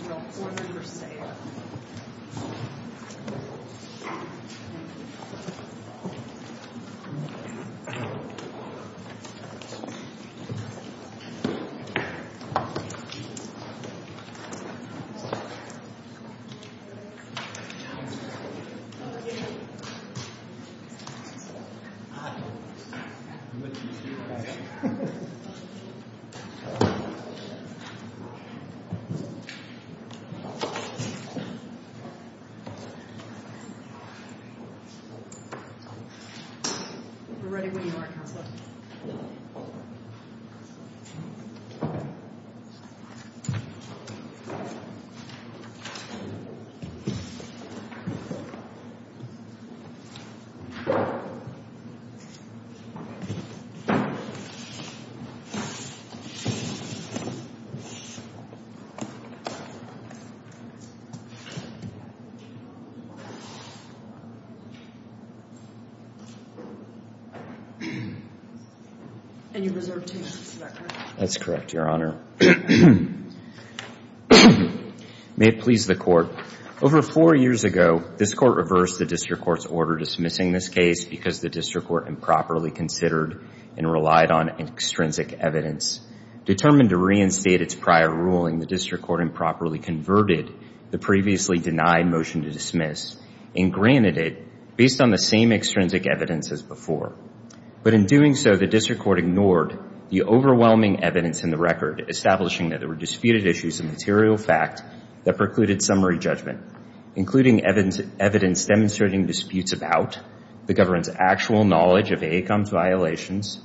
Hassan Foreman v. AECOM We're ready when you are, Counselor. And you're reserved two minutes, is that correct? That's correct, Your Honor. May it please the Court. Over four years ago, this Court reversed the District Court's order dismissing this case because the District Court improperly considered and relied on extrinsic evidence. Determined to reinstate its prior ruling, the District Court improperly converted the previously denied motion to dismiss and granted it based on the same extrinsic evidence as before. But in doing so, the District Court ignored the overwhelming evidence in the record, establishing that there were disputed issues of material fact that precluded summary judgment, including evidence demonstrating disputes about the government's actual knowledge of AECOM's violations,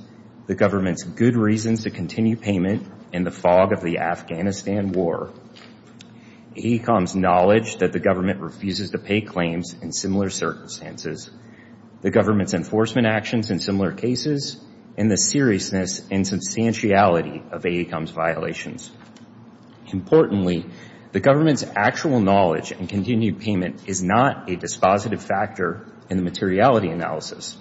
the government's good reasons to continue payment, and the fog of the Afghanistan war, AECOM's knowledge that the government refuses to pay claims in similar circumstances, the government's enforcement actions in similar cases, and the seriousness and substantiality of AECOM's violations. Importantly, the government's actual knowledge and continued payment is not a dispositive factor in the materiality analysis.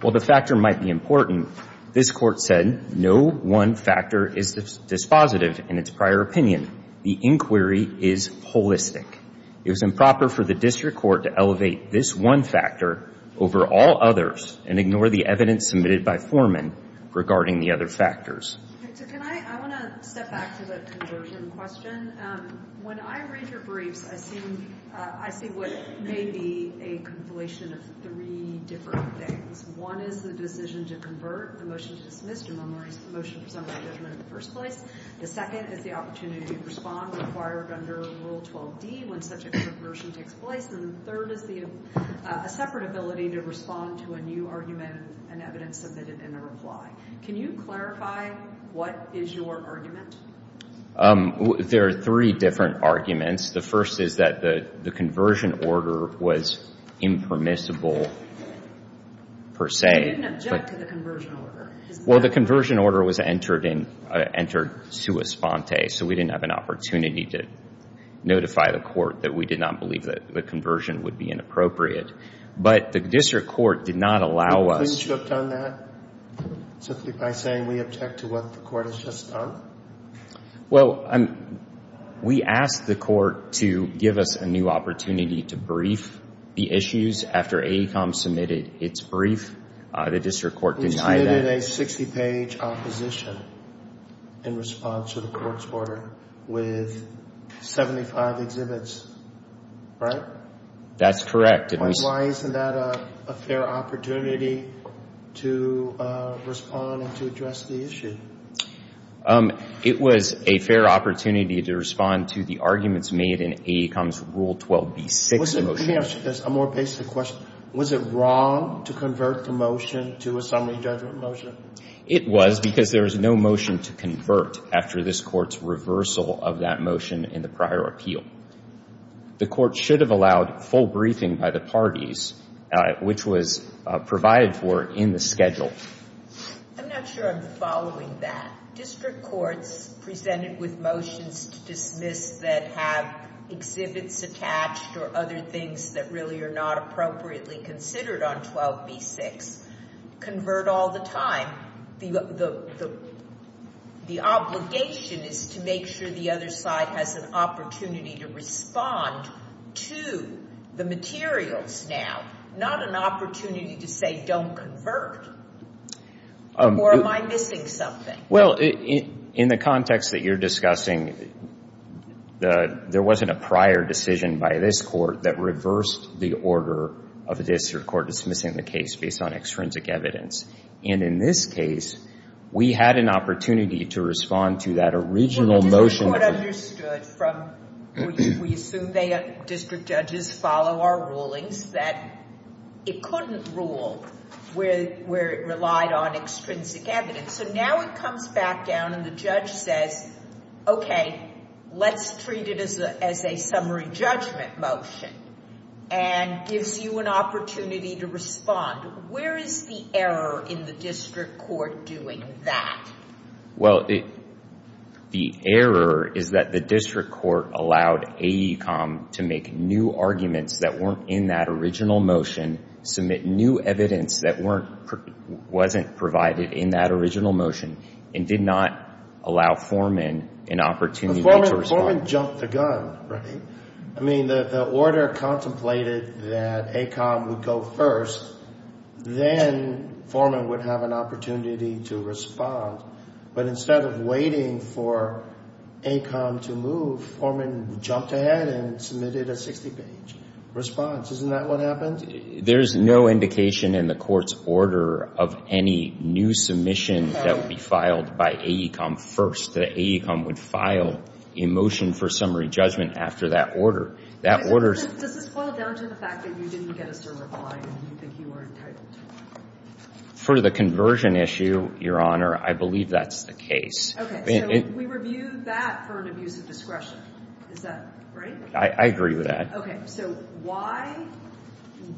While the factor might be important, this Court said no one factor is dispositive in its prior opinion. The inquiry is holistic. It was improper for the District Court to elevate this one factor over all others and ignore the evidence submitted by Foreman regarding the other factors. I want to step back to the conversion question. When I read your briefs, I see what may be a compilation of three different things. One is the decision to convert the motion to dismiss to memorize the motion for summary judgment in the first place. The second is the opportunity to respond required under Rule 12d when such a conversion takes place. And the third is a separate ability to respond to a new argument and evidence submitted in a reply. Can you clarify what is your argument? There are three different arguments. The first is that the conversion order was impermissible per se. You didn't object to the conversion order. Well, the conversion order was entered in, entered sua sponte, so we didn't have an opportunity to notify the Court that we did not believe that the conversion would be inappropriate. But the District Court did not allow us. Do you believe you have done that simply by saying we object to what the Court has just done? Well, we asked the Court to give us a new opportunity to brief the issues after AECOM submitted its brief. The District Court denied that. You submitted a 60-page opposition in response to the Court's order with 75 exhibits, right? That's correct. Why isn't that a fair opportunity to respond and to address the issue? It was a fair opportunity to respond to the arguments made in AECOM's Rule 12b-6 motion. Let me ask you this, a more basic question. Was it wrong to convert the motion to a summary judgment motion? It was because there was no motion to convert after this Court's reversal of that motion in the prior appeal. The Court should have allowed full briefing by the parties, which was provided for in the schedule. I'm not sure I'm following that. District courts presented with motions to dismiss that have exhibits attached or other things that really are not appropriately considered on 12b-6 convert all the time. The obligation is to make sure the other side has an opportunity to respond to the materials now, not an opportunity to say, don't convert, or am I missing something? Well, in the context that you're discussing, there wasn't a prior decision by this Court that reversed the order of the District Court dismissing the case based on extrinsic evidence. And in this case, we had an opportunity to respond to that original motion. Well, the District Court understood from, we assume district judges follow our rulings, that it couldn't rule where it relied on extrinsic evidence. So now it comes back down and the judge says, okay, let's treat it as a summary judgment motion and gives you an opportunity to respond. Where is the error in the District Court doing that? Well, the error is that the District Court allowed AECOM to make new arguments that weren't in that original motion, submit new evidence that wasn't provided in that original motion and did not allow Foreman an opportunity to respond. Foreman jumped the gun, right? I mean, the order contemplated that AECOM would go first, then Foreman would have an opportunity to respond. But instead of waiting for AECOM to move, Foreman jumped ahead and submitted a 60-page response. Isn't that what happened? There's no indication in the Court's order of any new submission that would be filed by AECOM first, that AECOM would file a motion for summary judgment after that order. Does this boil down to the fact that you didn't get us to reply and you think you are entitled to one? For the conversion issue, Your Honor, I believe that's the case. Okay. So we review that for an abuse of discretion. Is that right? I agree with that. Okay. So why,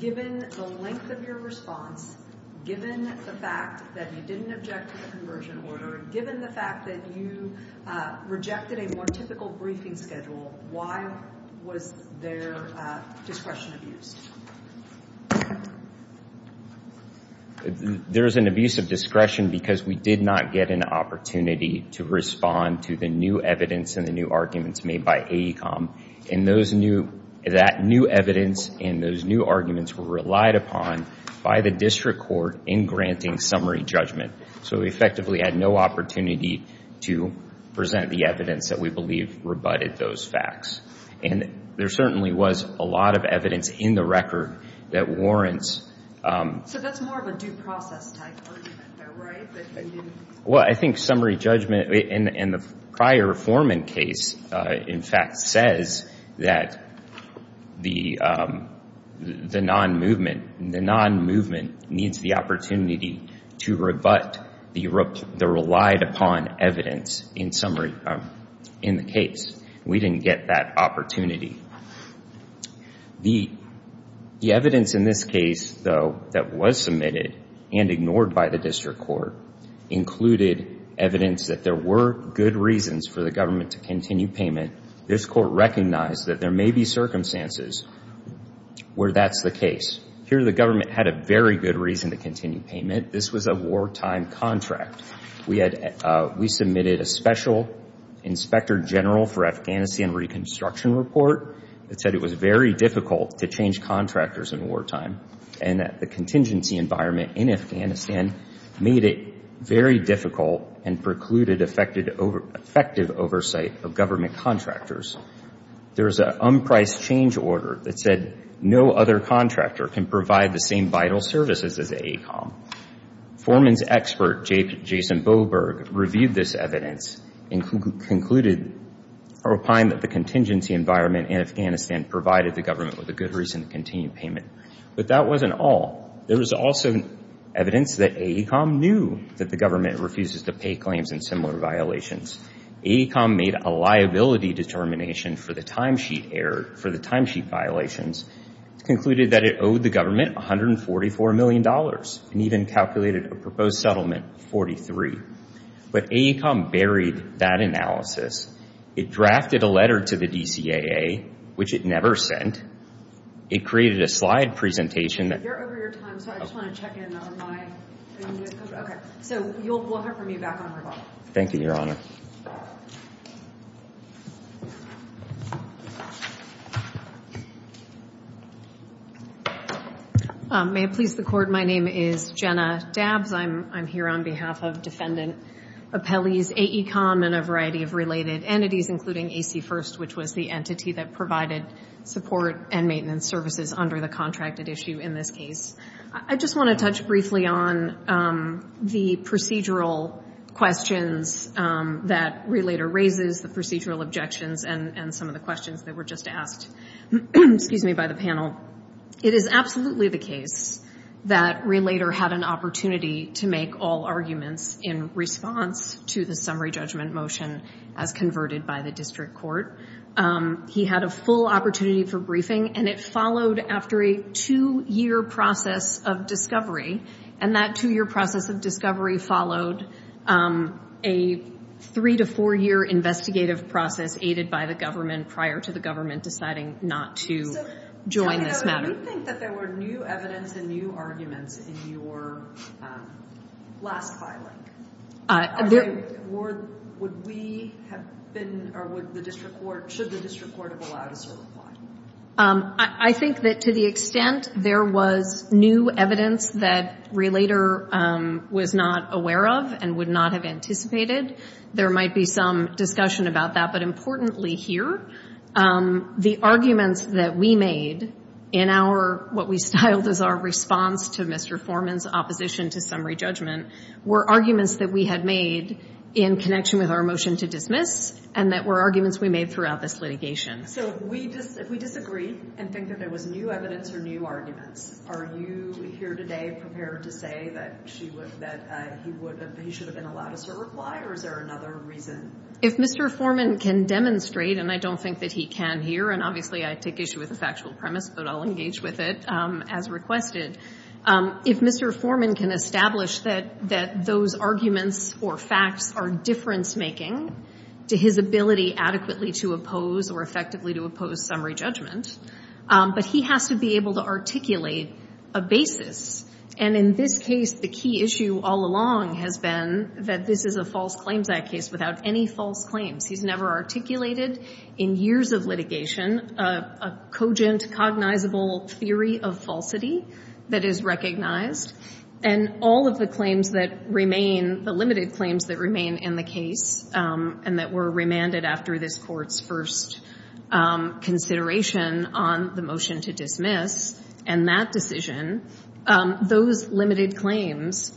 given the length of your response, given the fact that you didn't object to the conversion order, given the fact that you rejected a more typical briefing schedule, why was there discretion abused? There was an abuse of discretion because we did not get an opportunity to respond to the new evidence and the new arguments made by AECOM. And that new evidence and those new arguments were relied upon by the District Court in granting summary judgment. So we effectively had no opportunity to present the evidence that we believe rebutted those facts. And there certainly was a lot of evidence in the record that warrants. So that's more of a due process type argument, though, right? Well, I think summary judgment in the prior Foreman case, in fact, says that the non-movement, needs the opportunity to rebut the relied upon evidence in the case. We didn't get that opportunity. The evidence in this case, though, that was submitted and ignored by the District Court, included evidence that there were good reasons for the government to continue payment. This Court recognized that there may be circumstances where that's the case. Here, the government had a very good reason to continue payment. This was a wartime contract. We submitted a special Inspector General for Afghanistan Reconstruction Report that said it was very difficult to change contractors in wartime and that the contingency environment in Afghanistan made it very difficult and precluded effective oversight of government contractors. There was an unpriced change order that said no other contractor can provide the same vital services as AECOM. Foreman's expert, Jason Boberg, reviewed this evidence and concluded or opined that the contingency environment in Afghanistan provided the government with a good reason to continue payment. But that wasn't all. There was also evidence that AECOM knew that the government refuses to pay claims in similar violations. AECOM made a liability determination for the timesheet error, for the timesheet violations. It concluded that it owed the government $144 million and even calculated a proposed settlement of 43. But AECOM buried that analysis. It drafted a letter to the DCAA, which it never sent. It created a slide presentation that You're over your time, so I just want to check in on my Okay. So we'll hear from you back on rebuttal. Thank you, Your Honor. May it please the Court, my name is Jenna Dabbs. I'm here on behalf of Defendant Appellee's AECOM and a variety of related entities, including AC First, which was the entity that provided support and maintenance services under the contracted issue in this case. I just want to touch briefly on the procedural questions that Relater raises, the procedural objections, and some of the questions that were just asked by the panel. It is absolutely the case that Relater had an opportunity to make all arguments in response to the summary judgment motion as converted by the district court. He had a full opportunity for briefing, and it followed after a two-year process of discovery. And that two-year process of discovery followed a three- to four-year investigative process aided by the government prior to the government deciding not to join this matter. Do you think that there were new evidence and new arguments in your last filing? Would we have been, or should the district court have allowed us to reply? I think that to the extent there was new evidence that Relater was not aware of and would not have anticipated, there might be some discussion about that. But importantly here, the arguments that we made in what we styled as our response to Mr. Foreman's opposition to summary judgment were arguments that we had made in connection with our motion to dismiss, and that were arguments we made throughout this litigation. So if we disagree and think that there was new evidence or new arguments, are you here today prepared to say that he should have been allowed us to reply, or is there another reason? If Mr. Foreman can demonstrate, and I don't think that he can here, and obviously I take issue with the factual premise, but I'll engage with it as requested. If Mr. Foreman can establish that those arguments or facts are difference-making to his ability adequately to oppose or effectively to oppose summary judgment, but he has to be able to articulate a basis. And in this case, the key issue all along has been that this is a false claims act case without any false claims. He's never articulated in years of litigation a cogent, cognizable theory of falsity that is recognized. And all of the claims that remain, the limited claims that remain in the case, and that were remanded after this Court's first consideration on the motion to dismiss and that decision, those limited claims,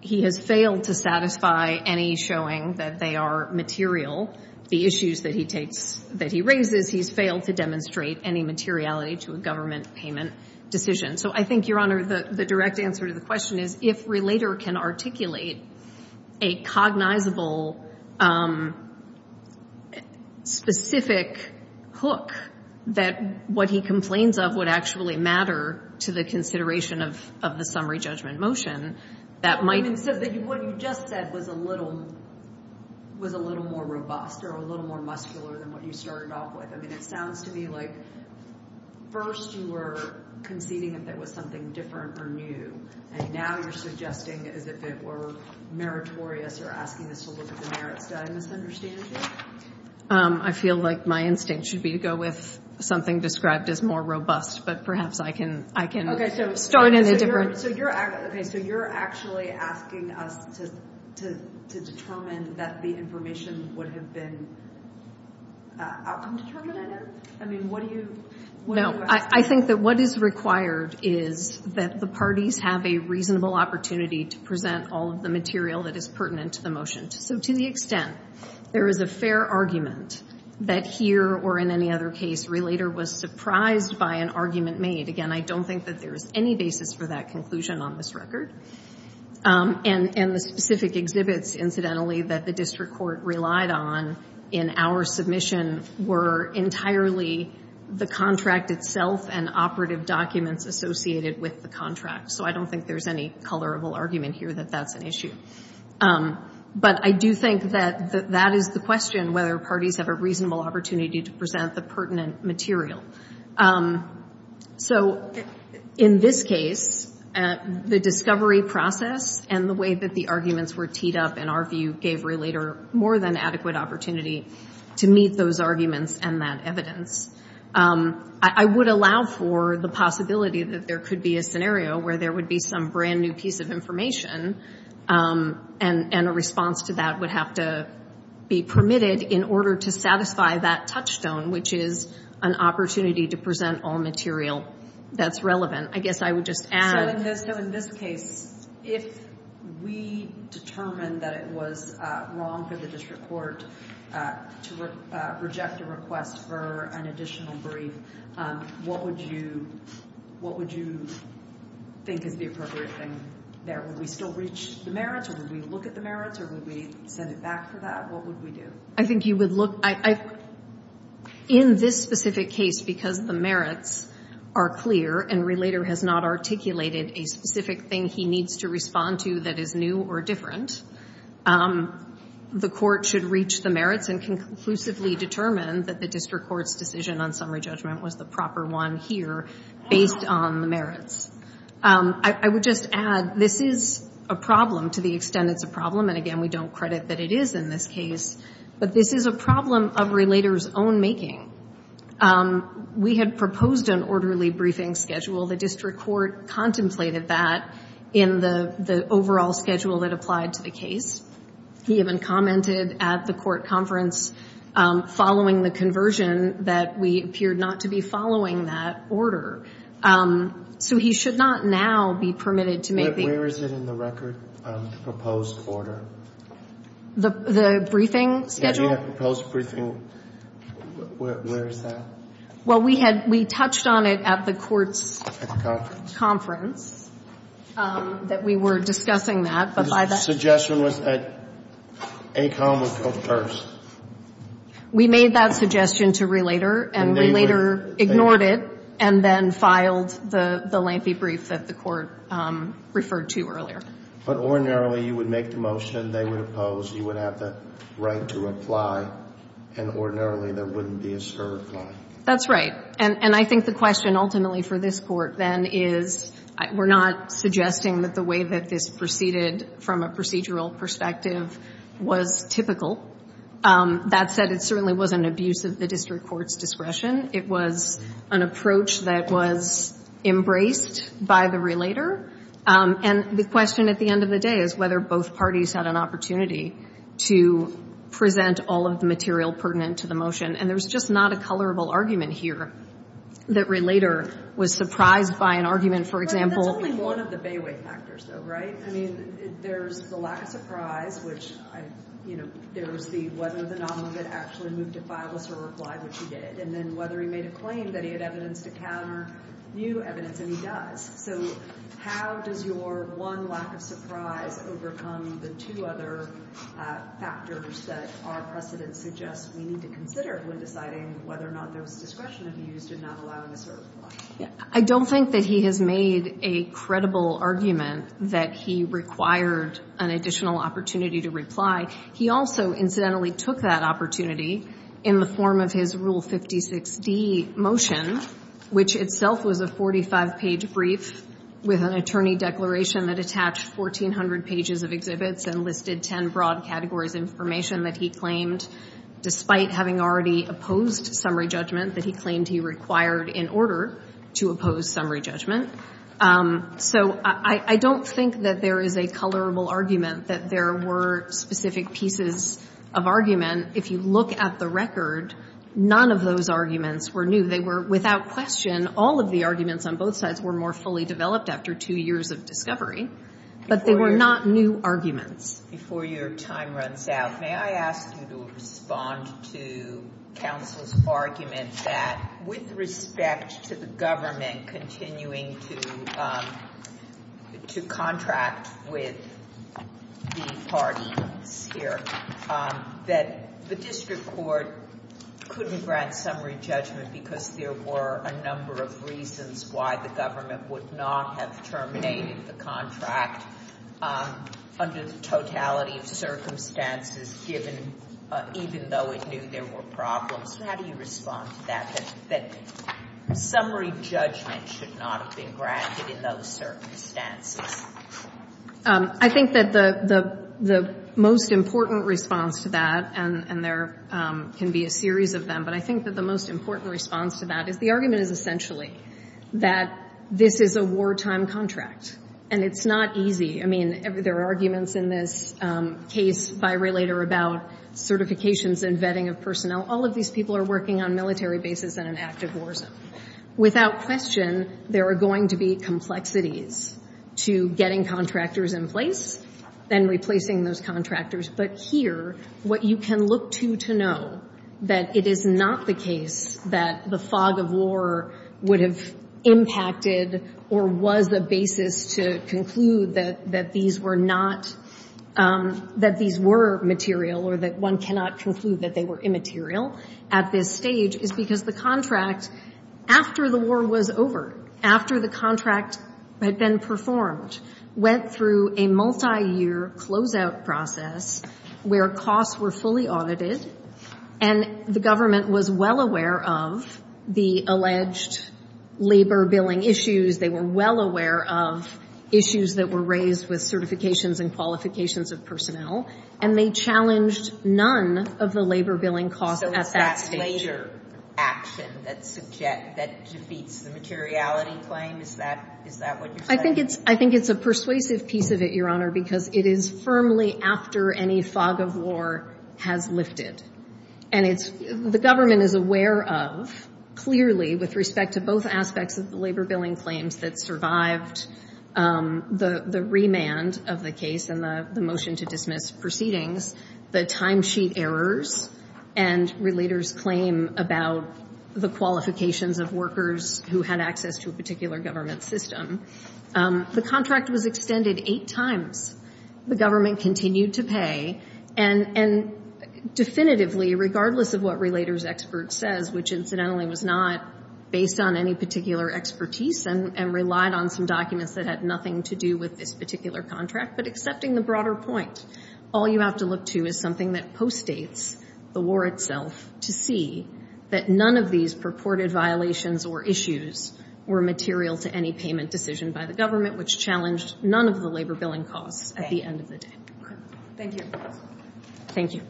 he has failed to satisfy any showing that they are material. The issues that he raises, he's failed to demonstrate any materiality to a government payment decision. So I think, Your Honor, the direct answer to the question is, if Relater can articulate a cognizable, specific hook that what he complains of would actually matter to the consideration of the summary judgment motion, that might... So what you just said was a little more robust or a little more muscular than what you started off with. I mean, it sounds to me like first you were conceding that there was something different or new, and now you're suggesting as if it were meritorious or asking us to look at the merits. Did I misunderstand you? I feel like my instinct should be to go with something described as more robust, but perhaps I can start in a different... Okay, so you're actually asking us to determine that the information would have been outcome determined, I know? I mean, what do you... No, I think that what is required is that the parties have a reasonable opportunity to present all of the material that is pertinent to the motion. So to the extent there is a fair argument that here or in any other case, Relater was surprised by an argument made. Again, I don't think that there is any basis for that conclusion on this record. And the specific exhibits, incidentally, that the district court relied on in our submission were entirely the contract itself and operative documents associated with the contract. So I don't think there's any colorable argument here that that's an issue. But I do think that that is the question, whether parties have a reasonable opportunity to present the pertinent material. So in this case, the discovery process and the way that the arguments were teed up in our view gave Relater more than adequate opportunity to meet those arguments and that evidence. I would allow for the possibility that there could be a scenario where there would be some brand new piece of information and a response to that would have to be permitted in order to satisfy that touchstone, which is an opportunity to present all material that's relevant. I guess I would just add... So in this case, if we determined that it was wrong for the district court to reject a request for an additional brief, what would you think is the appropriate thing there? Would we still reach the merits, or would we look at the merits, or would we send it back for that? What would we do? I think you would look... In this specific case, because the merits are clear and Relater has not articulated a specific thing he needs to respond to that is new or different, the court should reach the merits and conclusively determine that the district court's decision on summary judgment was the proper one here based on the merits. I would just add, this is a problem to the extent it's a problem, and again, we don't credit that it is in this case, but this is a problem of Relater's own making. We had proposed an orderly briefing schedule. The district court contemplated that in the overall schedule that applied to the case. He even commented at the court conference following the conversion that we appeared not to be following that order. So he should not now be permitted to make the... The briefing schedule? The proposed briefing, where is that? Well, we had, we touched on it at the court's... At the conference. Conference, that we were discussing that, but by that... The suggestion was that ACOM would go first. We made that suggestion to Relater, and Relater ignored it, and then filed the lengthy brief that the court referred to earlier. But ordinarily, you would make the motion, they would oppose, you would have the right to reply, and ordinarily, there wouldn't be a certifying. That's right. And I think the question ultimately for this Court then is, we're not suggesting that the way that this proceeded from a procedural perspective was typical. That said, it certainly wasn't abuse of the district court's discretion. It was an approach that was embraced by the Relater. And the question at the end of the day is whether both parties had an opportunity to present all of the material pertinent to the motion. And there's just not a colorable argument here that Relater was surprised by an argument, for example... That's only one of the bayway factors, though, right? I mean, there's the lack of surprise, which, you know, there was the whether the nominee had actually moved to file this or reply, which he did, and then whether he made a claim that he had evidence to counter new evidence, and he does. So how does your one lack of surprise overcome the two other factors that our precedent suggests we need to consider when deciding whether or not there was discretion to be used in not allowing a certify? I don't think that he has made a credible argument that he required an additional opportunity to reply. He also incidentally took that opportunity in the form of his Rule 56D motion, which itself was a 45-page brief with an attorney declaration that attached 1,400 pages of exhibits and listed 10 broad categories of information that he claimed, despite having already opposed summary judgment, that he claimed he required in order to oppose summary judgment. So I don't think that there is a colorable argument that there were specific pieces of argument. If you look at the record, none of those arguments were new. They were, without question, all of the arguments on both sides were more fully developed after two years of discovery, but they were not new arguments. Before your time runs out, may I ask you to respond to counsel's argument that, with respect to the government continuing to contract with the parties here, that the district court couldn't grant summary judgment because there were a number of reasons why the government would not have terminated the contract under the totality of circumstances, given even though it knew there were problems. How do you respond to that, that summary judgment should not have been granted in those circumstances? I think that the most important response to that, and there can be a series of them, but I think that the most important response to that is the argument is essentially that this is a wartime contract, and it's not easy. I mean, there are arguments in this case by Raelator about certifications and vetting of personnel. All of these people are working on military bases and in active wars. Without question, there are going to be complexities to getting contractors in place and replacing those contractors, but here what you can look to to know that it is not the case that the fog of war would have impacted or was the basis to conclude that these were not, that these were material or that one cannot conclude that they were immaterial at this stage is because the contract, after the war was over, after the contract had been performed, went through a multiyear closeout process where costs were fully audited, and the government was well aware of the alleged labor billing issues. They were well aware of issues that were raised with certifications and qualifications of personnel, and they challenged none of the labor billing costs at that stage. It's not a major action that defeats the materiality claim. Is that what you're saying? I think it's a persuasive piece of it, Your Honor, because it is firmly after any fog of war has lifted, and the government is aware of, clearly, with respect to both aspects of the labor billing claims that survived the remand of the case and the motion to dismiss proceedings, the timesheet errors and relators' claim about the qualifications of workers who had access to a particular government system. The contract was extended eight times. The government continued to pay, and definitively, regardless of what relator's expert says, which incidentally was not based on any particular expertise and relied on some documents that had nothing to do with this particular contract, but accepting the broader point, all you have to look to is something that postdates the war itself to see that none of these purported violations or issues were material to any payment decision by the government, which challenged none of the labor billing costs at the end of the day. Thank you. Thank you.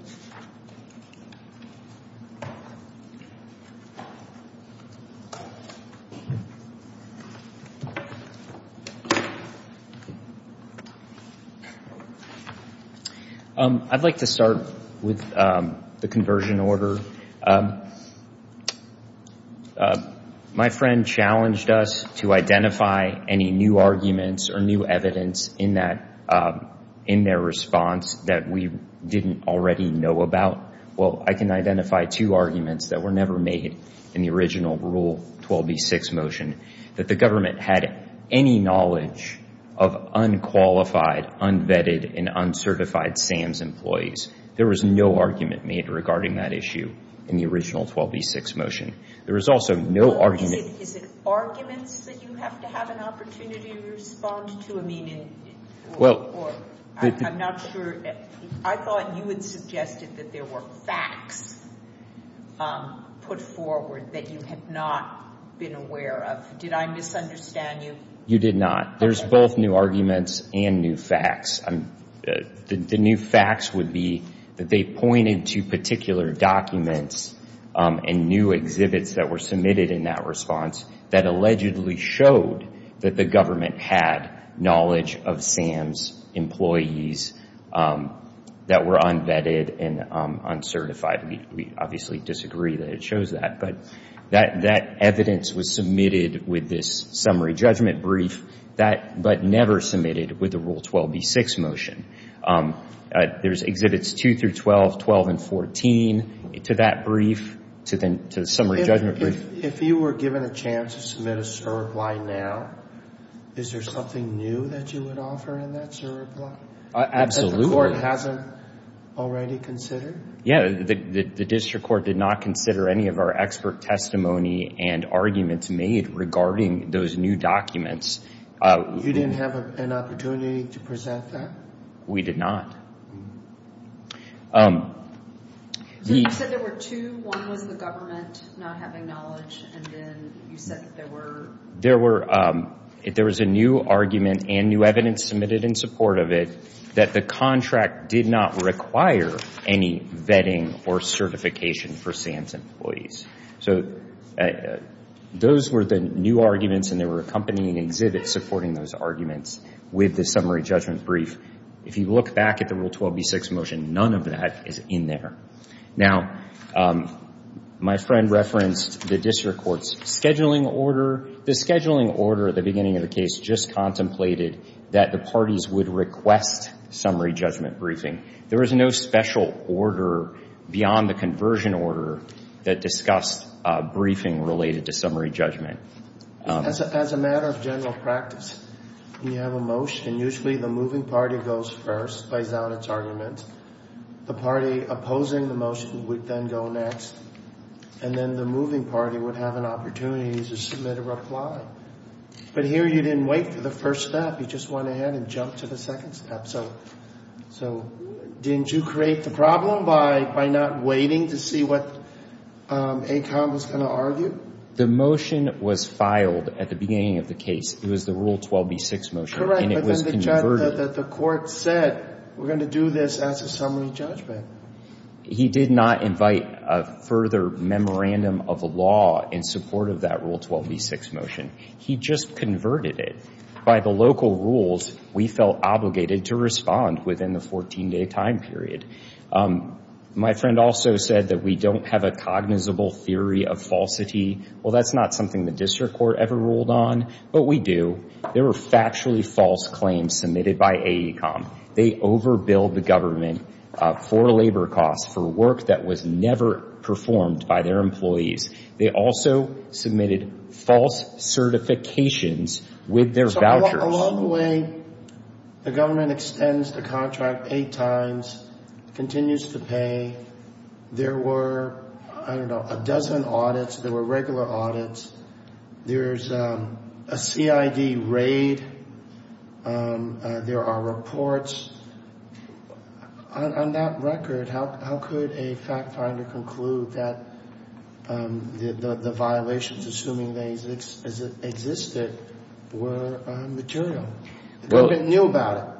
I'd like to start with the conversion order. My friend challenged us to identify any new arguments or new evidence in their response that we didn't already know about. Well, I can identify two arguments that were never made in the original Rule 12b-6 motion, that the government had any knowledge of unqualified, unvetted, and uncertified SAMS employees. There was no argument made regarding that issue in the original 12b-6 motion. There was also no argument. Is it arguments that you have to have an opportunity to respond to? I mean, I'm not sure. I thought you had suggested that there were facts put forward that you had not been aware of. Did I misunderstand you? You did not. There's both new arguments and new facts. The new facts would be that they pointed to particular documents and new exhibits that were submitted in that response that allegedly showed that the government had knowledge of SAMS employees that were unvetted and uncertified. We obviously disagree that it shows that. But that evidence was submitted with this summary judgment brief, but never submitted with the Rule 12b-6 motion. There's exhibits 2 through 12, 12 and 14 to that brief, to the summary judgment brief. If you were given a chance to submit a CERB line now, is there something new that you would offer in that CERB line? Absolutely. That the court hasn't already considered? Yeah. The district court did not consider any of our expert testimony and arguments made regarding those new documents. You didn't have an opportunity to present that? We did not. You said there were two. One was the government not having knowledge, and then you said that there were... There was a new argument and new evidence submitted in support of it that the contract did not require any vetting or certification for SAMS employees. So those were the new arguments, and there were accompanying exhibits supporting those arguments with the summary judgment brief. If you look back at the Rule 12b-6 motion, none of that is in there. Now, my friend referenced the district court's scheduling order. The scheduling order at the beginning of the case just contemplated that the parties would request summary judgment briefing. There was no special order beyond the conversion order that discussed briefing related to summary judgment. As a matter of general practice, when you have a motion, usually the moving party goes first, lays out its argument. The party opposing the motion would then go next, and then the moving party would have an opportunity to submit a reply. But here you didn't wait for the first step. You just went ahead and jumped to the second step. So didn't you create the problem by not waiting to see what ACOM was going to argue? The motion was filed at the beginning of the case. It was the Rule 12b-6 motion, and it was converted. Correct, but then the court said, we're going to do this as a summary judgment. He did not invite a further memorandum of law in support of that Rule 12b-6 motion. He just converted it. By the local rules, we felt obligated to respond within the 14-day time period. My friend also said that we don't have a cognizable theory of falsity. Well, that's not something the district court ever ruled on, but we do. There were factually false claims submitted by AECOM. They overbilled the government for labor costs for work that was never performed by their employees. They also submitted false certifications with their vouchers. Along the way, the government extends the contract eight times, continues to pay. There were, I don't know, a dozen audits. There were regular audits. There's a CID raid. There are reports. On that record, how could a fact finder conclude that the violations, assuming they existed, were material? They knew about it,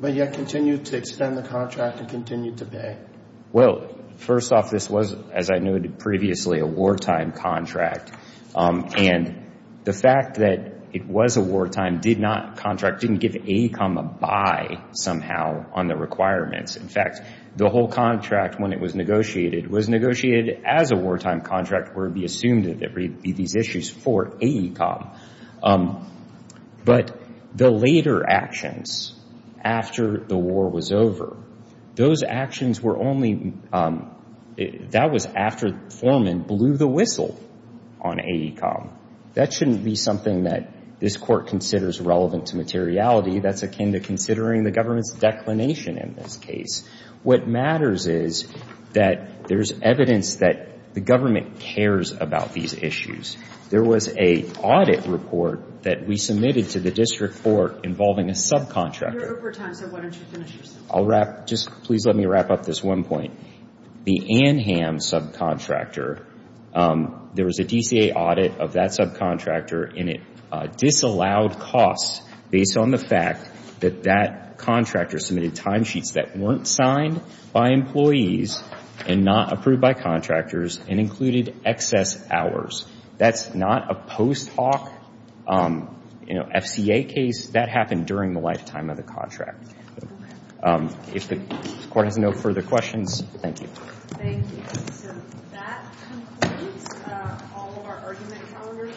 but yet continued to extend the contract and continued to pay. Well, first off, this was, as I noted previously, a wartime contract. And the fact that it was a wartime contract didn't give AECOM a buy somehow on the requirements. In fact, the whole contract, when it was negotiated, was negotiated as a wartime contract, where it would be assumed that there would be these issues for AECOM. But the later actions, after the war was over, those actions were only — that was after Foreman blew the whistle on AECOM. That shouldn't be something that this Court considers relevant to materiality. That's akin to considering the government's declination in this case. What matters is that there's evidence that the government cares about these issues. There was an audit report that we submitted to the district court involving a subcontractor. You're over time, so why don't you finish your sentence? I'll wrap — just please let me wrap up this one point. The Anham subcontractor, there was a DCA audit of that subcontractor, and it disallowed costs based on the fact that that contractor submitted timesheets that weren't signed by employees and not approved by contractors and included excess hours. That's not a post hoc, you know, FCA case. That happened during the lifetime of the contract. If the Court has no further questions, thank you. Thank you. So that concludes all of our argument calendars.